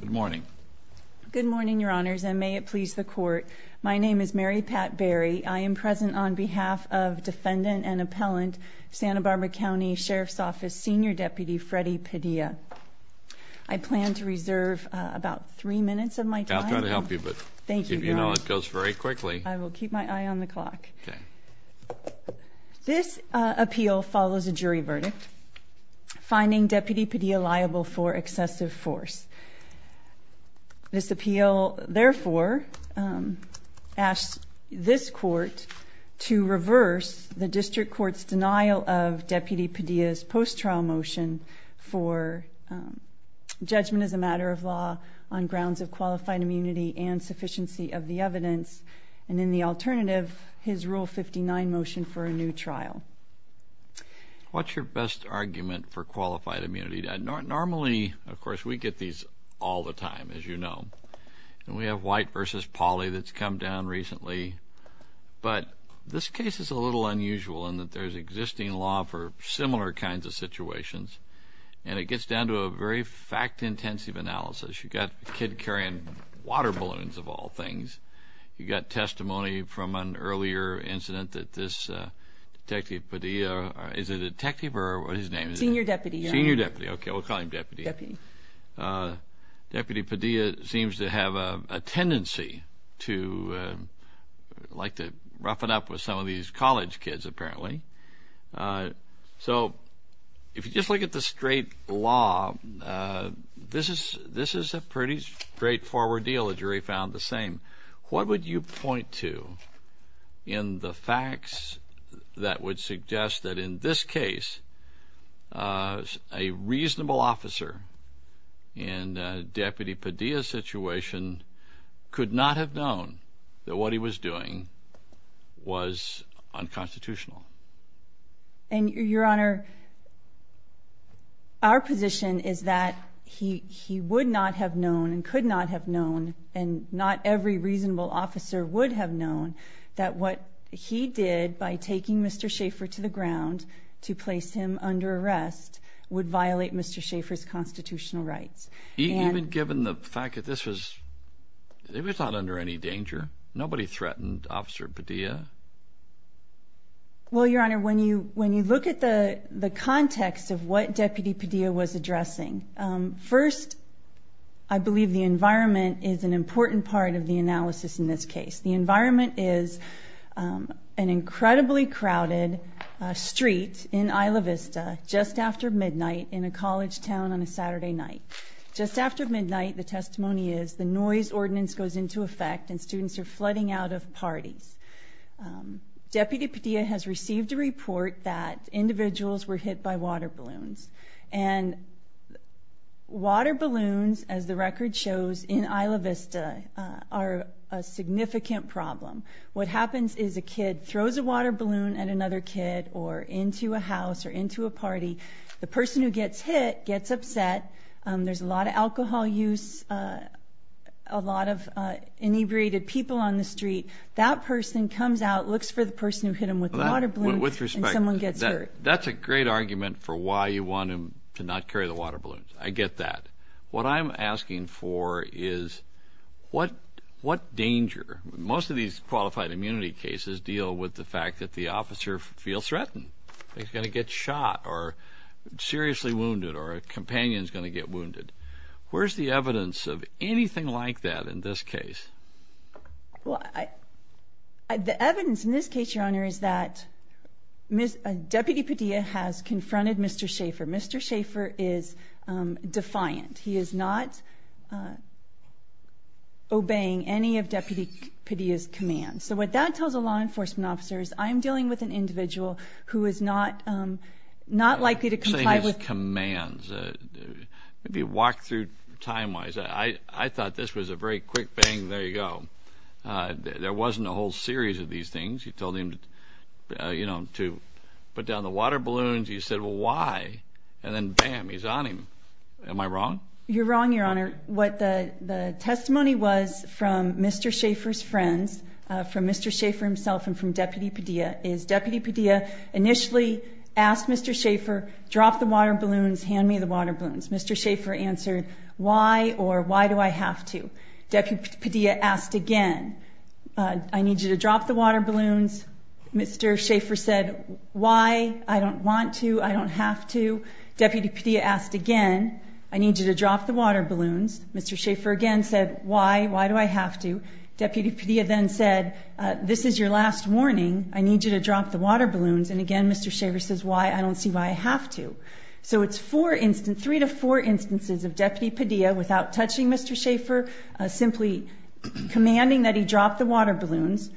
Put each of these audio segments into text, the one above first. Good morning. Good morning, Your Honors, and may it please the Court. My name is Mary Pat Berry. I am present on behalf of Defendant and Appellant, Santa Barbara County Sheriff's Office Senior Deputy Freddy Padilla. I plan to reserve about three minutes of my time. I'll try to help you, but if you know it goes very quickly. I will keep my eye on the clock. This appeal follows a jury verdict. Finding Deputy Padilla liable for excessive force. This appeal, therefore, asks this Court to reverse the District Court's denial of Deputy Padilla's post-trial motion for judgment as a matter of law on grounds of qualified immunity and sufficiency of the evidence, and in the alternative, his Rule 59 motion for a new trial. What's your best argument for qualified immunity? Normally, of course, we get these all the time, as you know, and we have White v. Pauley that's come down recently, but this case is a little unusual in that there's existing law for similar kinds of situations, and it gets down to a very fact-intensive analysis. You've got a kid carrying water balloons, of all things. You've got testimony from an earlier incident that this Detective Padilla is a detective or what his name is? Senior Deputy. Senior Deputy. Okay, we'll call him Deputy. Deputy. Deputy Padilla seems to have a tendency to like to rough it up with some of these college kids, apparently. So if you just look at the straight law, this is a pretty straightforward deal. The jury found the same. What would you point to in the facts that would suggest that in this case, a reasonable officer in a Deputy Padilla situation could not have known that what he was doing was unconstitutional? Your Honor, our position is that he would not have known and could not have known, and not every reasonable officer would have known, that what he did by taking Mr. Schaffer to the ground to place him under arrest would violate Mr. Schaffer's constitutional rights. Even given the fact that this was not under any danger? Nobody threatened Officer Padilla? Well, Your Honor, when you look at the context of what Deputy Padilla was addressing, first, I believe the environment is an important part of the analysis in this case. The environment is an incredibly crowded street in Isla Vista just after midnight in a college town on a Saturday night. Just after midnight, the testimony is the noise ordinance goes into effect and students are flooding out of parties. Deputy Padilla has received a report that individuals were hit by water balloons, and water balloons, as the record shows, in Isla Vista are a significant problem. What happens is a kid throws a water balloon at another kid or into a house or into a party. The person who gets hit gets upset. There's a lot of alcohol use, a lot of inebriated people on the street. That person comes out, looks for the person who hit him with the water balloon, and someone gets hurt. That's a great argument for why you want him to not carry the water balloons. I get that. What I'm asking for is what danger? Most of these qualified immunity cases deal with the fact that the officer feels threatened. He's going to get shot or seriously wounded or a companion is going to get wounded. Where's the evidence of anything like that in this case? The evidence in this case, Your Honor, is that Deputy Padilla has confronted Mr. Schaefer. Mr. Schaefer is defiant. He is not obeying any of Deputy Padilla's commands. So what that tells the law enforcement officers, I'm dealing with an individual who is not likely to comply with commands. Maybe walk-through time-wise, I thought this was a very quick bang, there you go. There wasn't a whole series of these things. He told him to put down the water balloons. He said, well, why? And then, bam, he's on him. Am I wrong? You're wrong, Your Honor. What the testimony was from Mr. Schaefer's friends, from Mr. Schaefer himself and from Deputy Padilla, is Deputy Padilla initially asked Mr. Schaefer, drop the water balloons, hand me the water balloons. Mr. Schaefer answered, why or why do I have to? Deputy Padilla asked again, I need you to drop the water balloons. Mr. Schaefer said, why? I don't want to. I don't have to. Deputy Padilla asked again, I need you to drop the water balloons. Mr. Schaefer again said, why? Why do I have to? Deputy Padilla then said, this is your last warning. I need you to drop the water balloons. And again, Mr. Schaefer says, why? I don't see why I have to. So it's three to four instances of Deputy Padilla, without touching Mr. Schaefer, simply commanding that he drop the water balloons,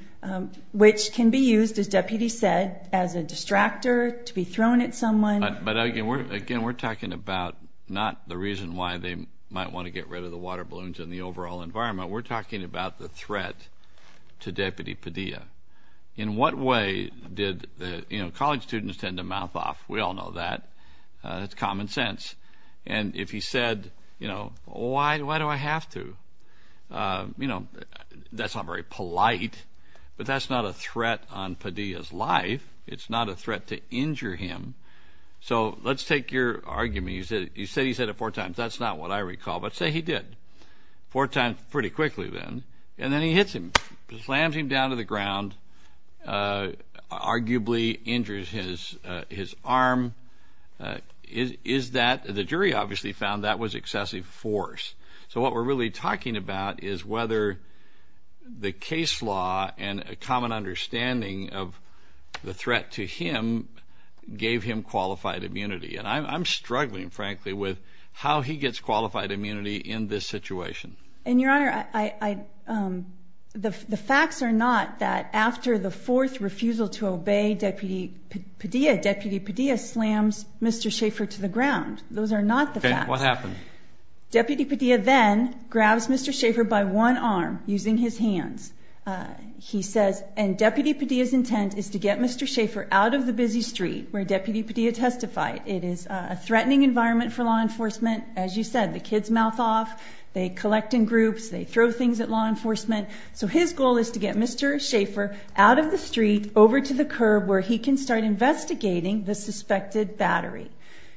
which can be used, as Deputy said, as a distractor, to be thrown at someone. But, again, we're talking about not the reason why they might want to get rid of the water balloons and the overall environment. We're talking about the threat to Deputy Padilla. In what way did the, you know, college students tend to mouth off. We all know that. It's common sense. And if he said, you know, why do I have to? You know, that's not very polite, but that's not a threat on Padilla's life. It's not a threat to injure him. So let's take your argument. You said he said it four times. That's not what I recall. But say he did. Four times pretty quickly then. And then he hits him, slams him down to the ground, arguably injures his arm. Is that, the jury obviously found that was excessive force. So what we're really talking about is whether the case law and a common understanding of the threat to him gave him qualified immunity. And I'm struggling, frankly, with how he gets qualified immunity in this situation. And, Your Honor, the facts are not that after the fourth refusal to obey Deputy Padilla, Deputy Padilla slams Mr. Schaefer to the ground. Those are not the facts. Okay. What happened? Deputy Padilla then grabs Mr. Schaefer by one arm using his hands. He says, and Deputy Padilla's intent is to get Mr. Schaefer out of the busy street where Deputy Padilla testified. It is a threatening environment for law enforcement. As you said, the kids mouth off. They collect in groups. They throw things at law enforcement. So his goal is to get Mr. Schaefer out of the street over to the curb where he can start investigating the suspected battery.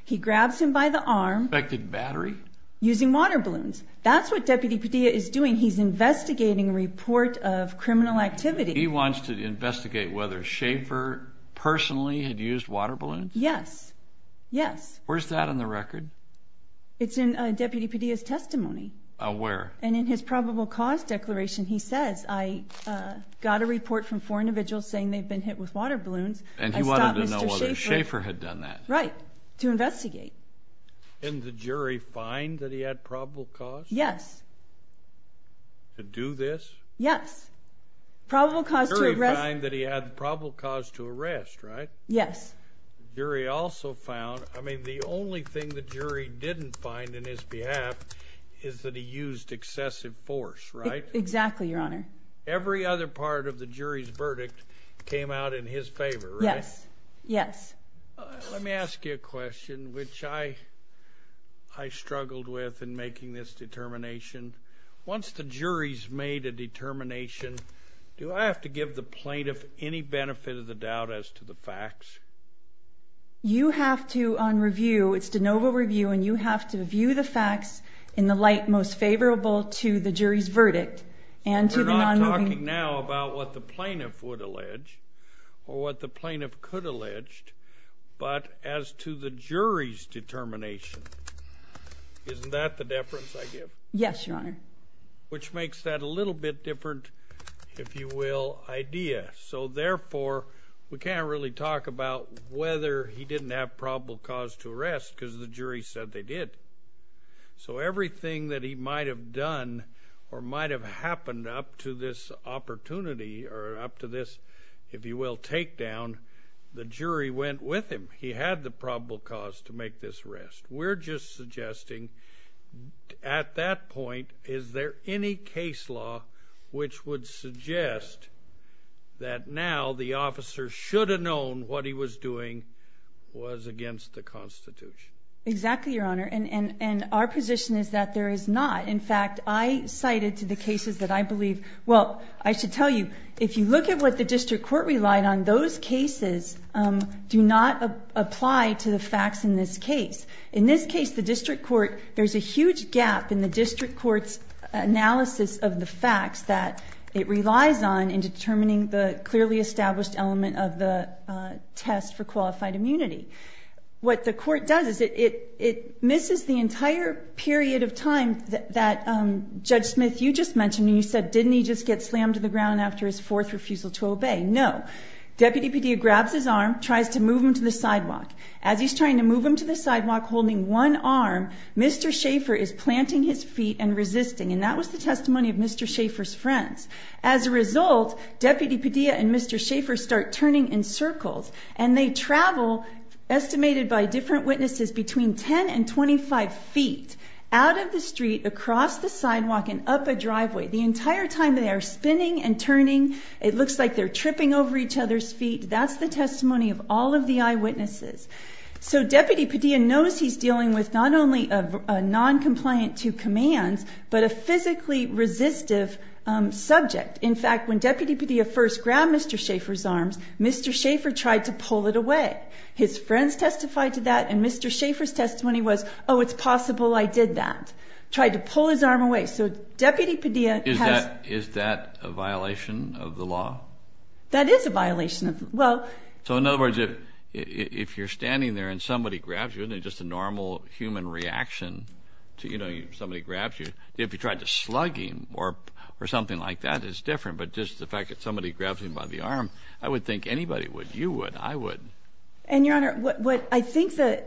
He grabs him by the arm. Suspected battery? Using water balloons. That's what Deputy Padilla is doing. He's investigating a report of criminal activity. He wants to investigate whether Schaefer personally had used water balloons? Yes. Yes. Where's that on the record? It's in Deputy Padilla's testimony. Where? And in his probable cause declaration he says, I got a report from four individuals saying they've been hit with water balloons. And he wanted to know whether Schaefer had done that. Right. To investigate. And the jury find that he had probable cause? Yes. To do this? Yes. Probable cause to arrest? The jury find that he had probable cause to arrest, right? Yes. The jury also found, I mean, the only thing the jury didn't find in his behalf is that he used excessive force, right? Exactly, Your Honor. Every other part of the jury's verdict came out in his favor, right? Yes. Let me ask you a question, which I struggled with in making this determination. Once the jury's made a determination, do I have to give the plaintiff any benefit of the doubt as to the facts? You have to, on review, it's de novo review, and you have to view the facts in the light most favorable to the jury's verdict. We're not talking now about what the plaintiff would allege or what the plaintiff could allege, but as to the jury's determination, isn't that the deference I give? Yes, Your Honor. Which makes that a little bit different, if you will, idea. So, therefore, we can't really talk about whether he didn't have probable cause to arrest because the jury said they did. So everything that he might have done or might have happened up to this opportunity or up to this, if you will, takedown, the jury went with him. He had the probable cause to make this arrest. We're just suggesting at that point, is there any case law which would suggest that now the officer should have known what he was doing was against the Constitution? Exactly, Your Honor, and our position is that there is not. In fact, I cited to the cases that I believe, well, I should tell you, if you look at what the district court relied on, those cases do not apply to the facts in this case. In this case, the district court, there's a huge gap in the district court's analysis of the facts that it relies on in determining the clearly established element of the test for qualified immunity. What the court does is it misses the entire period of time that Judge Smith, you just mentioned, and you said, didn't he just get slammed to the ground after his fourth refusal to obey? No. Deputy Padilla grabs his arm, tries to move him to the sidewalk. As he's trying to move him to the sidewalk holding one arm, Mr. Schaefer is planting his feet and resisting, and that was the testimony of Mr. Schaefer's friends. As a result, Deputy Padilla and Mr. Schaefer start turning in circles, and they travel, estimated by different witnesses, between 10 and 25 feet out of the street, across the sidewalk, and up a driveway. The entire time they are spinning and turning, it looks like they're tripping over each other's feet. That's the testimony of all of the eyewitnesses. So Deputy Padilla knows he's dealing with not only a noncompliant to commands, but a physically resistive subject. In fact, when Deputy Padilla first grabbed Mr. Schaefer's arms, Mr. Schaefer tried to pull it away. His friends testified to that, and Mr. Schaefer's testimony was, oh, it's possible I did that. Tried to pull his arm away. So Deputy Padilla has- Is that a violation of the law? That is a violation of the law. So in other words, if you're standing there and somebody grabs you, isn't it just a normal human reaction to, you know, somebody grabs you? If you tried to slug him or something like that, it's different. But just the fact that somebody grabs him by the arm, I would think anybody would. You would. I would. And, Your Honor, what I think the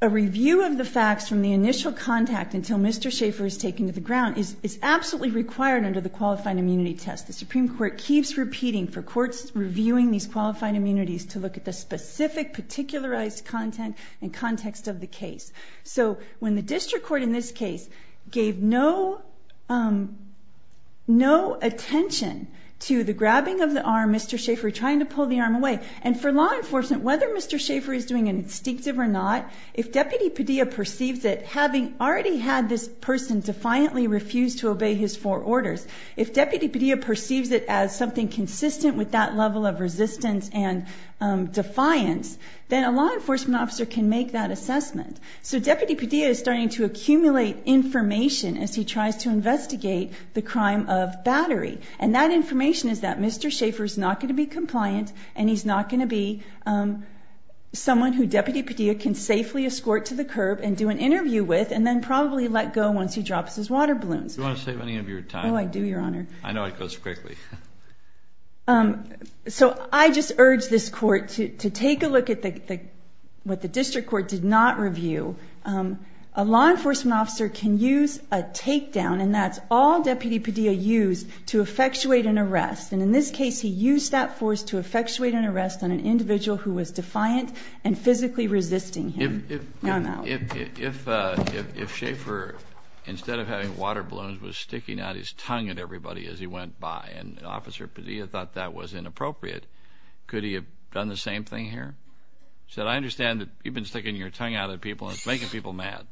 review of the facts from the initial contact until Mr. Schaefer is taken to the ground is absolutely required under the qualifying immunity test. The Supreme Court keeps repeating for courts reviewing these qualifying immunities to look at the specific particularized content and context of the case. So when the district court in this case gave no attention to the grabbing of the arm, Mr. Schaefer trying to pull the arm away, and for law enforcement, whether Mr. Schaefer is doing an instinctive or not, if Deputy Padilla perceives it, having already had this person defiantly refuse to obey his four orders, if Deputy Padilla perceives it as something consistent with that level of resistance and defiance, then a law enforcement officer can make that assessment. So Deputy Padilla is starting to accumulate information as he tries to investigate the crime of battery. And that information is that Mr. Schaefer is not going to be compliant, and he's not going to be someone who Deputy Padilla can safely escort to the curb and do an interview with and then probably let go once he drops his water balloons. Do you want to save any of your time? Oh, I do, Your Honor. I know it goes quickly. So I just urge this court to take a look at what the district court did not review. A law enforcement officer can use a takedown, and that's all Deputy Padilla used, to effectuate an arrest. And in this case, he used that force to effectuate an arrest on an individual who was defiant and physically resisting him. If Schaefer, instead of having water balloons, was sticking out his tongue at everybody as he went by and Officer Padilla thought that was inappropriate, could he have done the same thing here? He said, I understand that you've been sticking your tongue out at people and it's making people mad.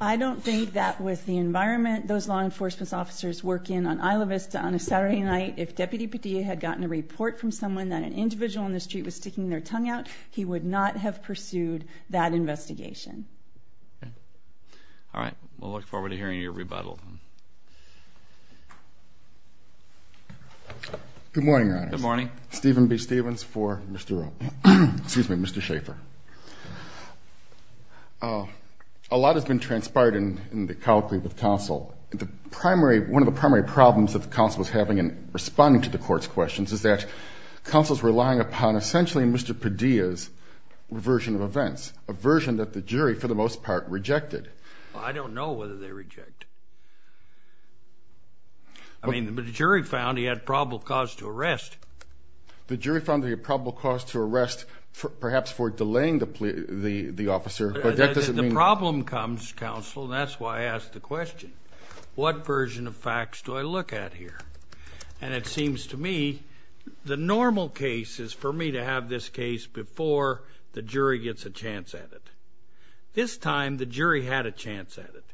I don't think that with the environment those law enforcement officers work in on Isla Vista on a Saturday night, if Deputy Padilla had gotten a report from someone that an individual on the street was sticking their tongue out, he would not have pursued that investigation. All right. We'll look forward to hearing your rebuttal. Good morning, Your Honors. Good morning. Stephen B. Stevens for Mr. Oak. Excuse me, Mr. Schaefer. A lot has been transpired in the colloquy with counsel. One of the primary problems that the counsel was having in responding to the court's questions is that they're relying upon essentially Mr. Padilla's version of events, a version that the jury, for the most part, rejected. I don't know whether they reject. I mean, the jury found he had probable cause to arrest. The jury found he had probable cause to arrest perhaps for delaying the officer. The problem comes, counsel, and that's why I ask the question. What version of facts do I look at here? And it seems to me the normal case is for me to have this case before the jury gets a chance at it. This time the jury had a chance at it.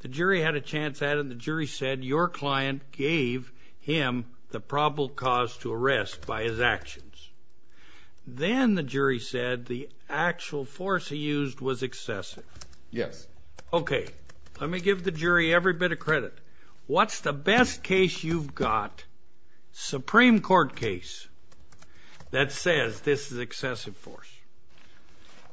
The jury had a chance at it, and the jury said your client gave him the probable cause to arrest by his actions. Then the jury said the actual force he used was excessive. Yes. Let me give the jury every bit of credit. What's the best case you've got, Supreme Court case, that says this is excessive force?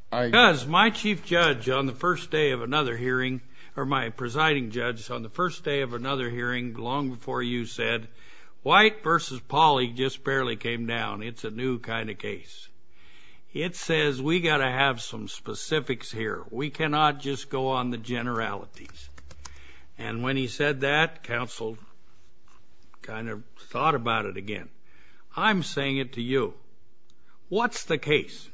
Because my chief judge on the first day of another hearing, or my presiding judge on the first day of another hearing long before you said, White versus Pauley just barely came down. It's a new kind of case. It says we've got to have some specifics here. We cannot just go on the generalities. And when he said that, counsel kind of thought about it again. I'm saying it to you. What's the case?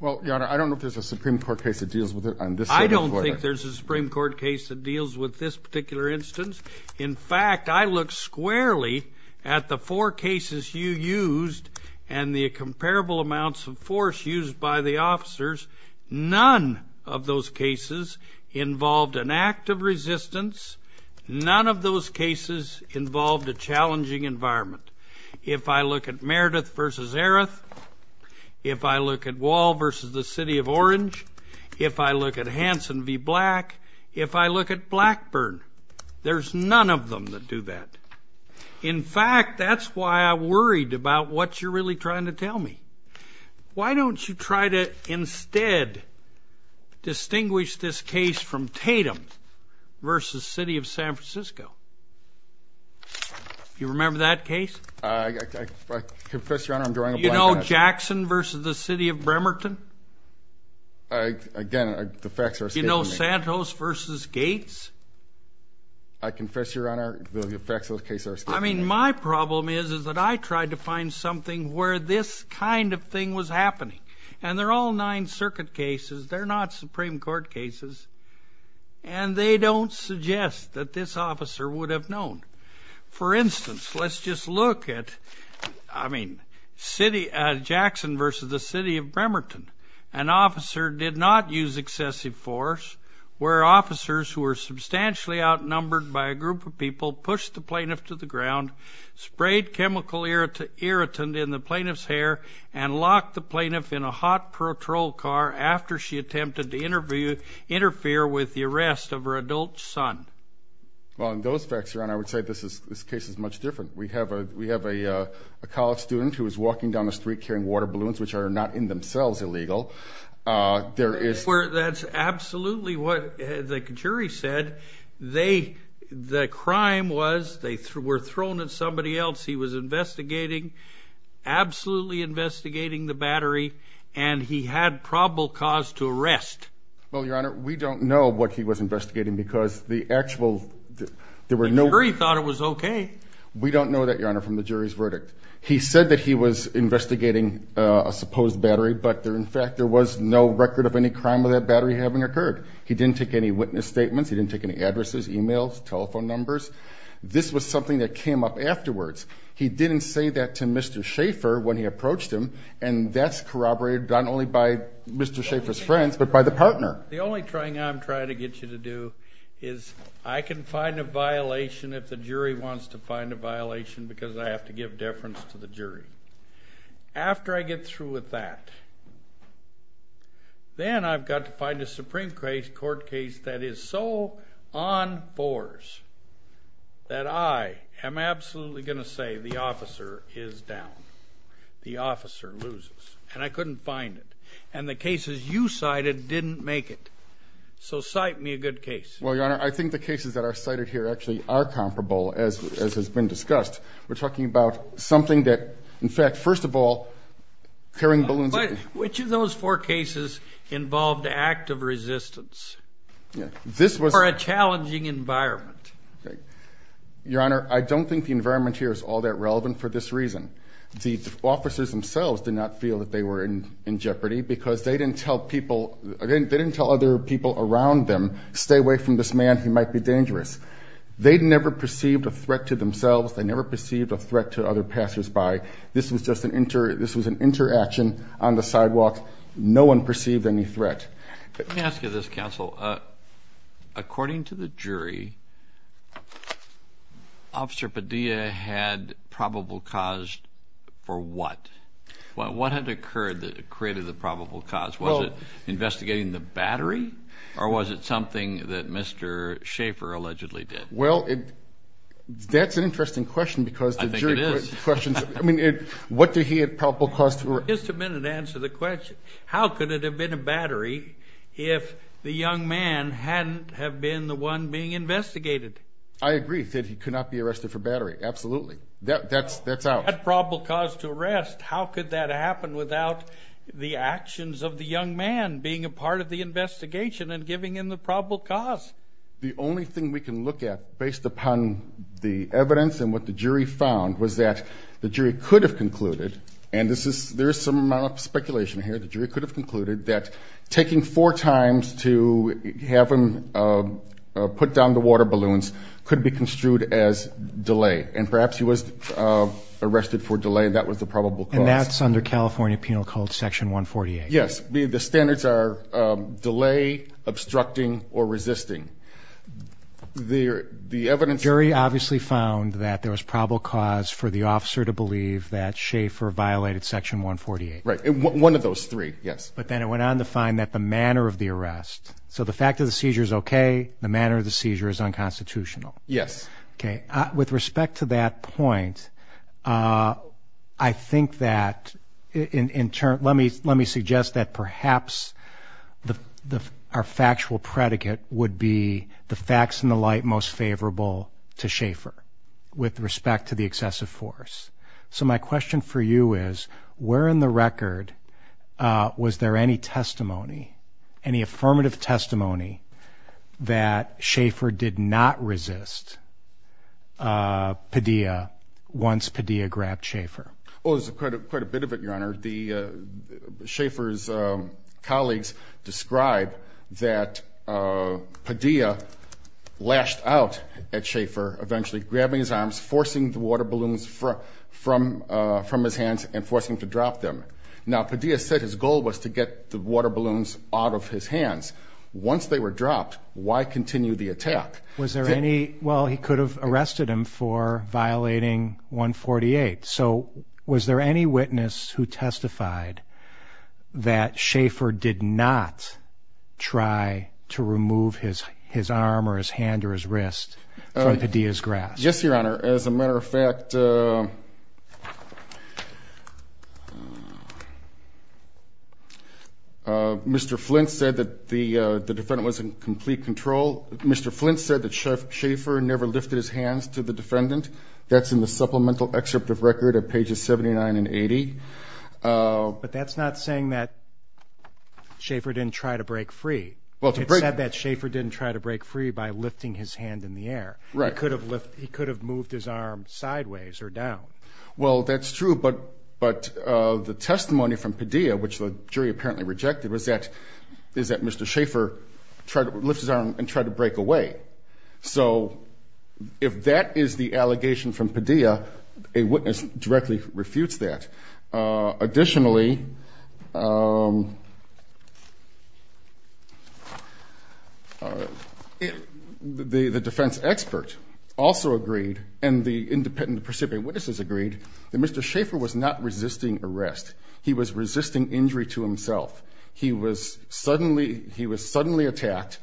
Well, Your Honor, I don't know if there's a Supreme Court case that deals with it on this side of the court. I don't think there's a Supreme Court case that deals with this particular instance. In fact, I look squarely at the four cases you used and the comparable amounts of force used by the officers. None of those cases involved an act of resistance. None of those cases involved a challenging environment. If I look at Meredith versus Erreth, if I look at Wall versus the City of Orange, if I look at Hanson v. Black, if I look at Blackburn, there's none of them that do that. In fact, that's why I worried about what you're really trying to tell me. Why don't you try to instead distinguish this case from Tatum versus City of San Francisco? Do you remember that case? I confess, Your Honor, I'm drawing a blank on it. Do you know Jackson versus the City of Bremerton? Again, the facts are escaping me. Do you know Santos versus Gates? I confess, Your Honor, the facts of the case are escaping me. I mean, my problem is that I tried to find something where this kind of thing was happening. And they're all Ninth Circuit cases. They're not Supreme Court cases. And they don't suggest that this officer would have known. For instance, let's just look at, I mean, Jackson versus the City of Bremerton. An officer did not use excessive force where officers who were substantially outnumbered by a group of people pushed the plaintiff to the ground, sprayed chemical irritant in the plaintiff's hair, and locked the plaintiff in a hot patrol car after she attempted to interfere with the arrest of her adult son. Well, in those facts, Your Honor, I would say this case is much different. We have a college student who was walking down the street carrying water balloons, which are not in themselves illegal. That's absolutely what the jury said. The crime was they were thrown at somebody else. He was investigating, absolutely investigating the battery, and he had probable cause to arrest. Well, Your Honor, we don't know what he was investigating because the actual – The jury thought it was okay. We don't know that, Your Honor, from the jury's verdict. He said that he was investigating a supposed battery, but in fact there was no record of any crime of that battery having occurred. He didn't take any witness statements. He didn't take any addresses, e-mails, telephone numbers. This was something that came up afterwards. He didn't say that to Mr. Schaefer when he approached him, and that's corroborated not only by Mr. Schaefer's friends but by the partner. The only thing I'm trying to get you to do is I can find a violation if the jury wants to find a violation because I have to give deference to the jury. After I get through with that, then I've got to find a Supreme Court case that is so on force that I am absolutely going to say the officer is down. The officer loses, and I couldn't find it. And the cases you cited didn't make it. So cite me a good case. Well, Your Honor, I think the cases that are cited here actually are comparable, as has been discussed. We're talking about something that, in fact, first of all, carrying balloons – But which of those four cases involved active resistance or a challenging environment? Your Honor, I don't think the environment here is all that relevant for this reason. The officers themselves did not feel that they were in jeopardy because they didn't tell other people around them, stay away from this man, he might be dangerous. They never perceived a threat to themselves. They never perceived a threat to other passersby. This was just an interaction on the sidewalk. No one perceived any threat. Let me ask you this, Counsel. According to the jury, Officer Padilla had probable cause for what? What had occurred that created the probable cause? Was it investigating the battery, or was it something that Mr. Schaefer allegedly did? Well, that's an interesting question because the jury questions – I think it is. I mean, what did he have probable cause for? Just a minute to answer the question. How could it have been a battery if the young man hadn't have been the one being investigated? I agree. He said he could not be arrested for battery. Absolutely. That's out. He had probable cause to arrest. How could that happen without the actions of the young man being a part of the investigation and giving him the probable cause? The only thing we can look at, based upon the evidence and what the jury found, was that the jury could have concluded – and there is some amount of speculation here – the jury could have concluded that taking four times to have him put down the water balloons could be construed as delay. And perhaps he was arrested for delay, and that was the probable cause. And that's under California Penal Code Section 148. Yes. The standards are delay, obstructing, or resisting. The evidence… The jury obviously found that there was probable cause for the officer to believe that Schaefer violated Section 148. Right. One of those three, yes. But then it went on to find that the manner of the arrest – so the fact of the seizure is okay, the manner of the seizure is unconstitutional. Yes. Okay. With respect to that point, I think that – let me suggest that perhaps our factual predicate would be the facts in the light most favorable to Schaefer, with respect to the excessive force. So my question for you is, where in the record was there any testimony, any affirmative testimony that Schaefer did not resist Padilla once Padilla grabbed Schaefer? Oh, there's quite a bit of it, Your Honor. Schaefer's colleagues describe that Padilla lashed out at Schaefer, eventually grabbing his arms, forcing the water balloons from his hands, and forcing him to drop them. Now, Padilla said his goal was to get the water balloons out of his hands. Once they were dropped, why continue the attack? Was there any – well, he could have arrested him for violating 148. So was there any witness who testified that Schaefer did not try to remove his arm or his hand or his wrist from Padilla's grasp? Yes, Your Honor. As a matter of fact, Mr. Flint said that the defendant was in complete control. Mr. Flint said that Schaefer never lifted his hands to the defendant. That's in the supplemental excerpt of record at pages 79 and 80. But that's not saying that Schaefer didn't try to break free. It said that Schaefer didn't try to break free by lifting his hand in the air. Right. He could have moved his arm sideways or down. Well, that's true, but the testimony from Padilla, which the jury apparently rejected, was that Mr. Schaefer lifted his arm and tried to break away. So if that is the allegation from Padilla, a witness directly refutes that. Additionally, the defense expert also agreed, and the independent precipitating witnesses agreed, that Mr. Schaefer was not resisting arrest. He was resisting injury to himself. He was suddenly attacked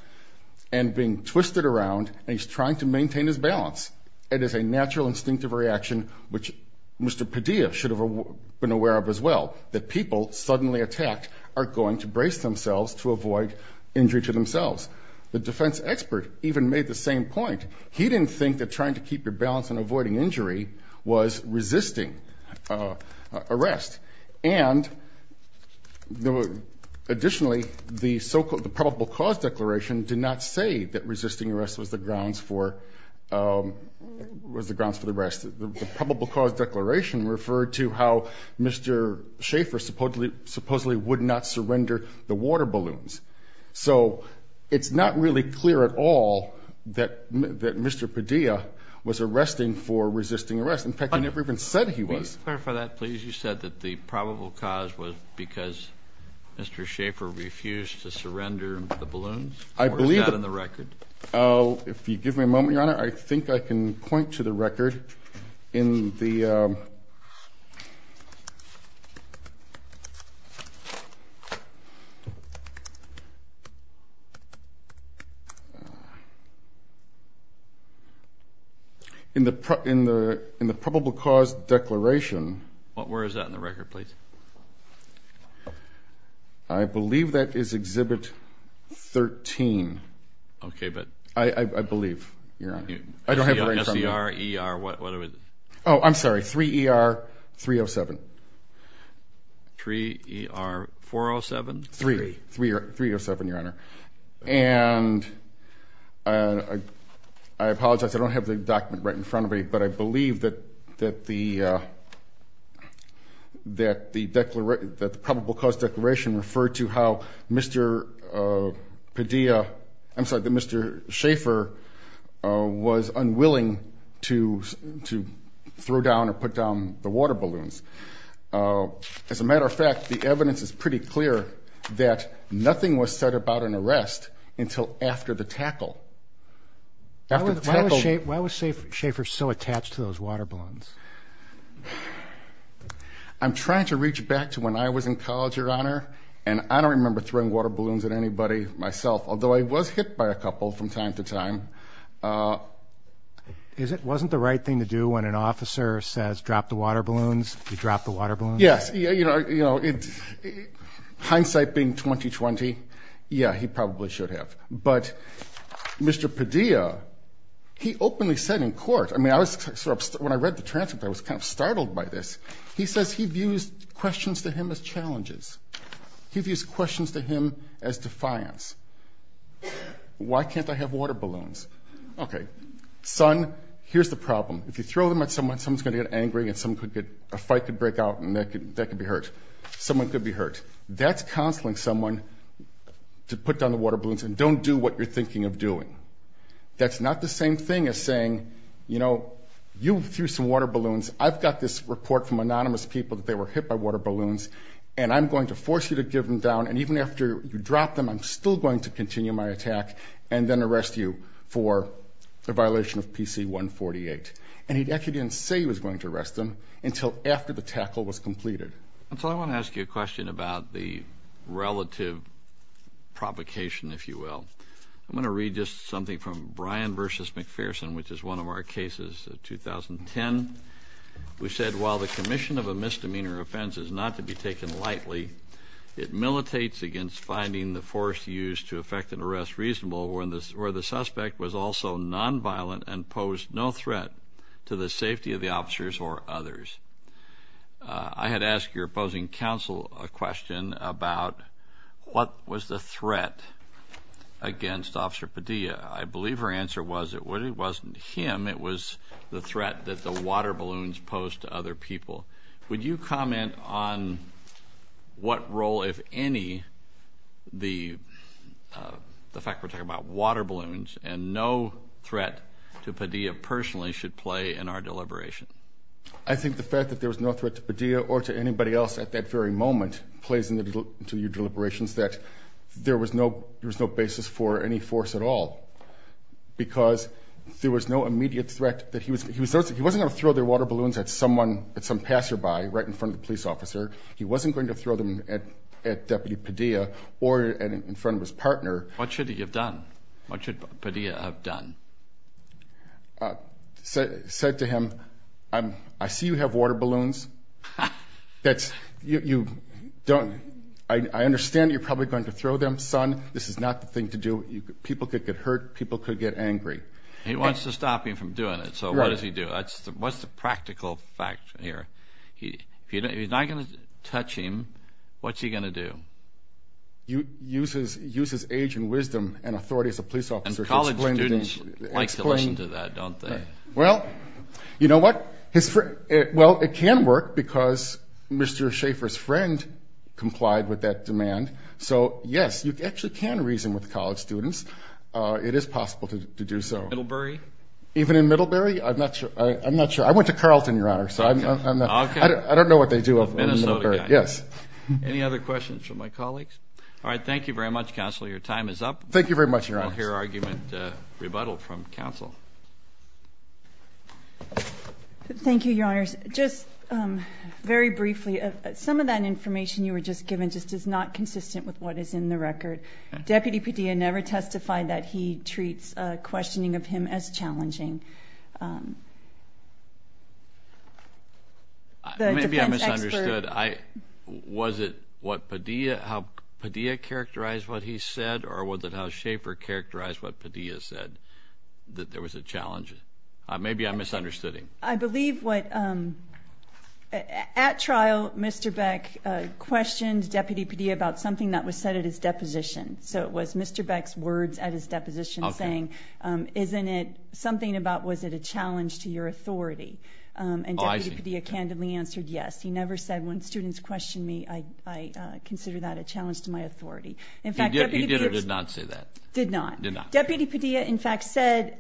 and being twisted around, and he's trying to maintain his balance. It is a natural instinctive reaction, which Mr. Padilla should have been aware of as well, that people suddenly attacked are going to brace themselves to avoid injury to themselves. The defense expert even made the same point. He didn't think that trying to keep your balance and avoiding injury was resisting arrest. And additionally, the probable cause declaration did not say that resisting arrest was the grounds for arrest. The probable cause declaration referred to how Mr. Schaefer supposedly would not surrender the water balloons. So it's not really clear at all that Mr. Padilla was arresting for resisting arrest. In fact, he never even said he was. Could you please clarify that, please? You said that the probable cause was because Mr. Schaefer refused to surrender the balloons? Or is that in the record? If you give me a moment, Your Honor, I think I can point to the record. In the probable cause declaration. Where is that in the record, please? I believe that is Exhibit 13. Okay, but. I believe, Your Honor. I don't have it right in front of me. S-E-R-E-R, what is it? Oh, I'm sorry. 3-E-R-3-O-7. 3-E-R-4-O-7? 3. 3-E-R-3-O-7, Your Honor. And I apologize. I don't have the document right in front of me. But I believe that the probable cause declaration referred to how Mr. Padilla. I'm sorry, that Mr. Schaefer was unwilling to throw down or put down the water balloons. As a matter of fact, the evidence is pretty clear that nothing was said about an arrest until after the tackle. Why was Schaefer so attached to those water balloons? I'm trying to reach back to when I was in college, Your Honor. And I don't remember throwing water balloons at anybody myself. Although I was hit by a couple from time to time. Wasn't the right thing to do when an officer says drop the water balloons? You drop the water balloons? Yes. Hindsight being 20-20. Yeah, he probably should have. But Mr. Padilla, he openly said in court. I mean, when I read the transcript, I was kind of startled by this. He says he views questions to him as challenges. He views questions to him as defiance. Why can't I have water balloons? Okay. Son, here's the problem. If you throw them at someone, someone's going to get angry and a fight could break out and that could be hurt. Someone could be hurt. That's counseling someone to put down the water balloons and don't do what you're thinking of doing. That's not the same thing as saying, you know, you threw some water balloons. I've got this report from anonymous people that they were hit by water balloons, and I'm going to force you to give them down. And even after you drop them, I'm still going to continue my attack and then arrest you for a violation of PC 148. And he actually didn't say he was going to arrest them until after the tackle was completed. I want to ask you a question about the relative provocation, if you will. I'm going to read just something from Bryan v. McPherson, which is one of our cases of 2010. We said, while the commission of a misdemeanor offense is not to be taken lightly, it militates against finding the force used to effect an arrest reasonable where the suspect was also nonviolent and posed no threat to the safety of the officers or others. I had asked your opposing counsel a question about what was the threat against Officer Padilla. I believe her answer was it wasn't him. It was the threat that the water balloons posed to other people. Would you comment on what role, if any, the fact we're talking about water balloons and no threat to Padilla personally should play in our deliberation? I think the fact that there was no threat to Padilla or to anybody else at that very moment plays into your deliberations that there was no basis for any force at all because there was no immediate threat. He wasn't going to throw their water balloons at some passerby right in front of the police officer. He wasn't going to throw them at Deputy Padilla or in front of his partner. What should he have done? What should Padilla have done? Said to him, I see you have water balloons. I understand you're probably going to throw them. Son, this is not the thing to do. People could get hurt. People could get angry. He wants to stop him from doing it, so what does he do? What's the practical fact here? If he's not going to touch him, what's he going to do? Use his age and wisdom and authority as a police officer to explain to him. Police like to listen to that, don't they? Well, you know what? Well, it can work because Mr. Schaeffer's friend complied with that demand. So, yes, you actually can reason with college students. It is possible to do so. Middlebury? Even in Middlebury? I'm not sure. I went to Carleton, Your Honor, so I don't know what they do up in Middlebury. A Minnesota guy. Yes. Any other questions from my colleagues? All right, thank you very much, Counselor. Your time is up. Thank you very much, Your Honor. I don't hear argument rebuttal from counsel. Thank you, Your Honor. Just very briefly, some of that information you were just given just is not consistent with what is in the record. Deputy Padilla never testified that he treats questioning of him as challenging. Maybe I misunderstood. Was it how Padilla characterized what he said, or was it how Schaeffer characterized what Padilla said, that there was a challenge? Maybe I misunderstood him. I believe at trial Mr. Beck questioned Deputy Padilla about something that was said at his deposition. So it was Mr. Beck's words at his deposition saying, isn't it something about was it a challenge to your authority? And Deputy Padilla candidly answered yes. He never said, when students question me, I consider that a challenge to my authority. He did or did not say that? Did not. Deputy Padilla, in fact, said,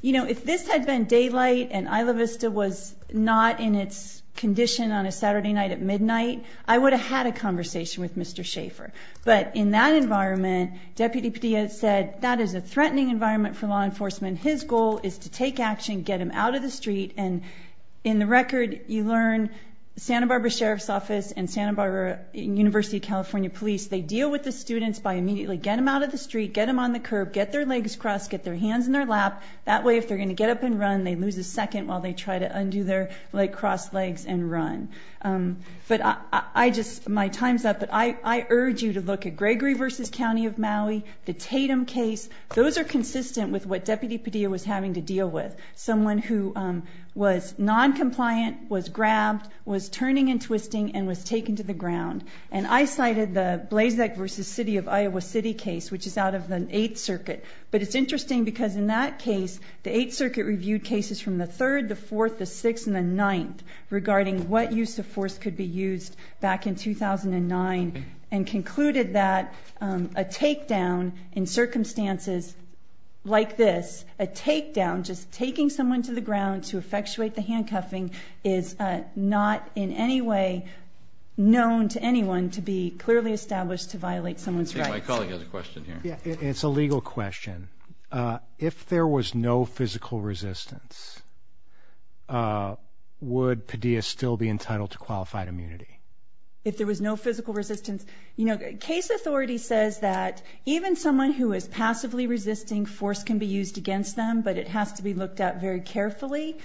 you know, if this had been daylight and Isla Vista was not in its condition on a Saturday night at midnight, I would have had a conversation with Mr. Schaeffer. But in that environment, Deputy Padilla said, that is a threatening environment for law enforcement. His goal is to take action, get him out of the street. And in the record, you learn Santa Barbara Sheriff's Office and Santa Barbara University of California Police, they deal with the students by immediately get them out of the street, get them on the curb, get their legs crossed, get their hands in their lap. That way, if they're going to get up and run, they lose a second while they try to undo their cross legs and run. But I just, my time's up, but I urge you to look at Gregory v. County of Maui, the Tatum case. Those are consistent with what Deputy Padilla was having to deal with, someone who was noncompliant, was grabbed, was turning and twisting, and was taken to the ground. And I cited the Blazek v. City of Iowa City case, which is out of the 8th Circuit. But it's interesting because in that case, the 8th Circuit reviewed cases from the 3rd, the 4th, the 6th, and the 9th regarding what use of force could be used back in 2009, and concluded that a takedown in circumstances like this, a takedown, just taking someone to the ground to effectuate the handcuffing, is not in any way known to anyone to be clearly established to violate someone's rights. I think my colleague has a question here. It's a legal question. If there was no physical resistance, would Padilla still be entitled to qualified immunity? If there was no physical resistance? You know, case authority says that even someone who is passively resisting, force can be used against them, but it has to be looked at very carefully.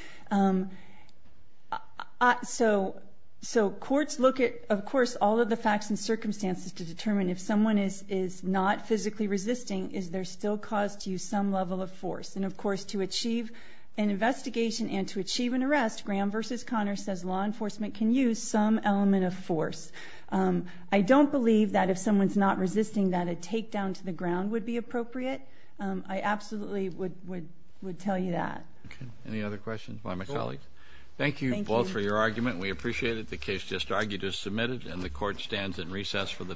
So courts look at, of course, all of the facts and circumstances to determine if someone is not physically resisting, is there still cause to use some level of force? And, of course, to achieve an investigation and to achieve an arrest, Graham v. Connor says law enforcement can use some element of force. I don't believe that if someone is not resisting, that a takedown to the ground would be appropriate. I absolutely would tell you that. Any other questions by my colleague? Thank you both for your argument. We appreciate it. The case just argued is submitted, and the court stands in recess for the day.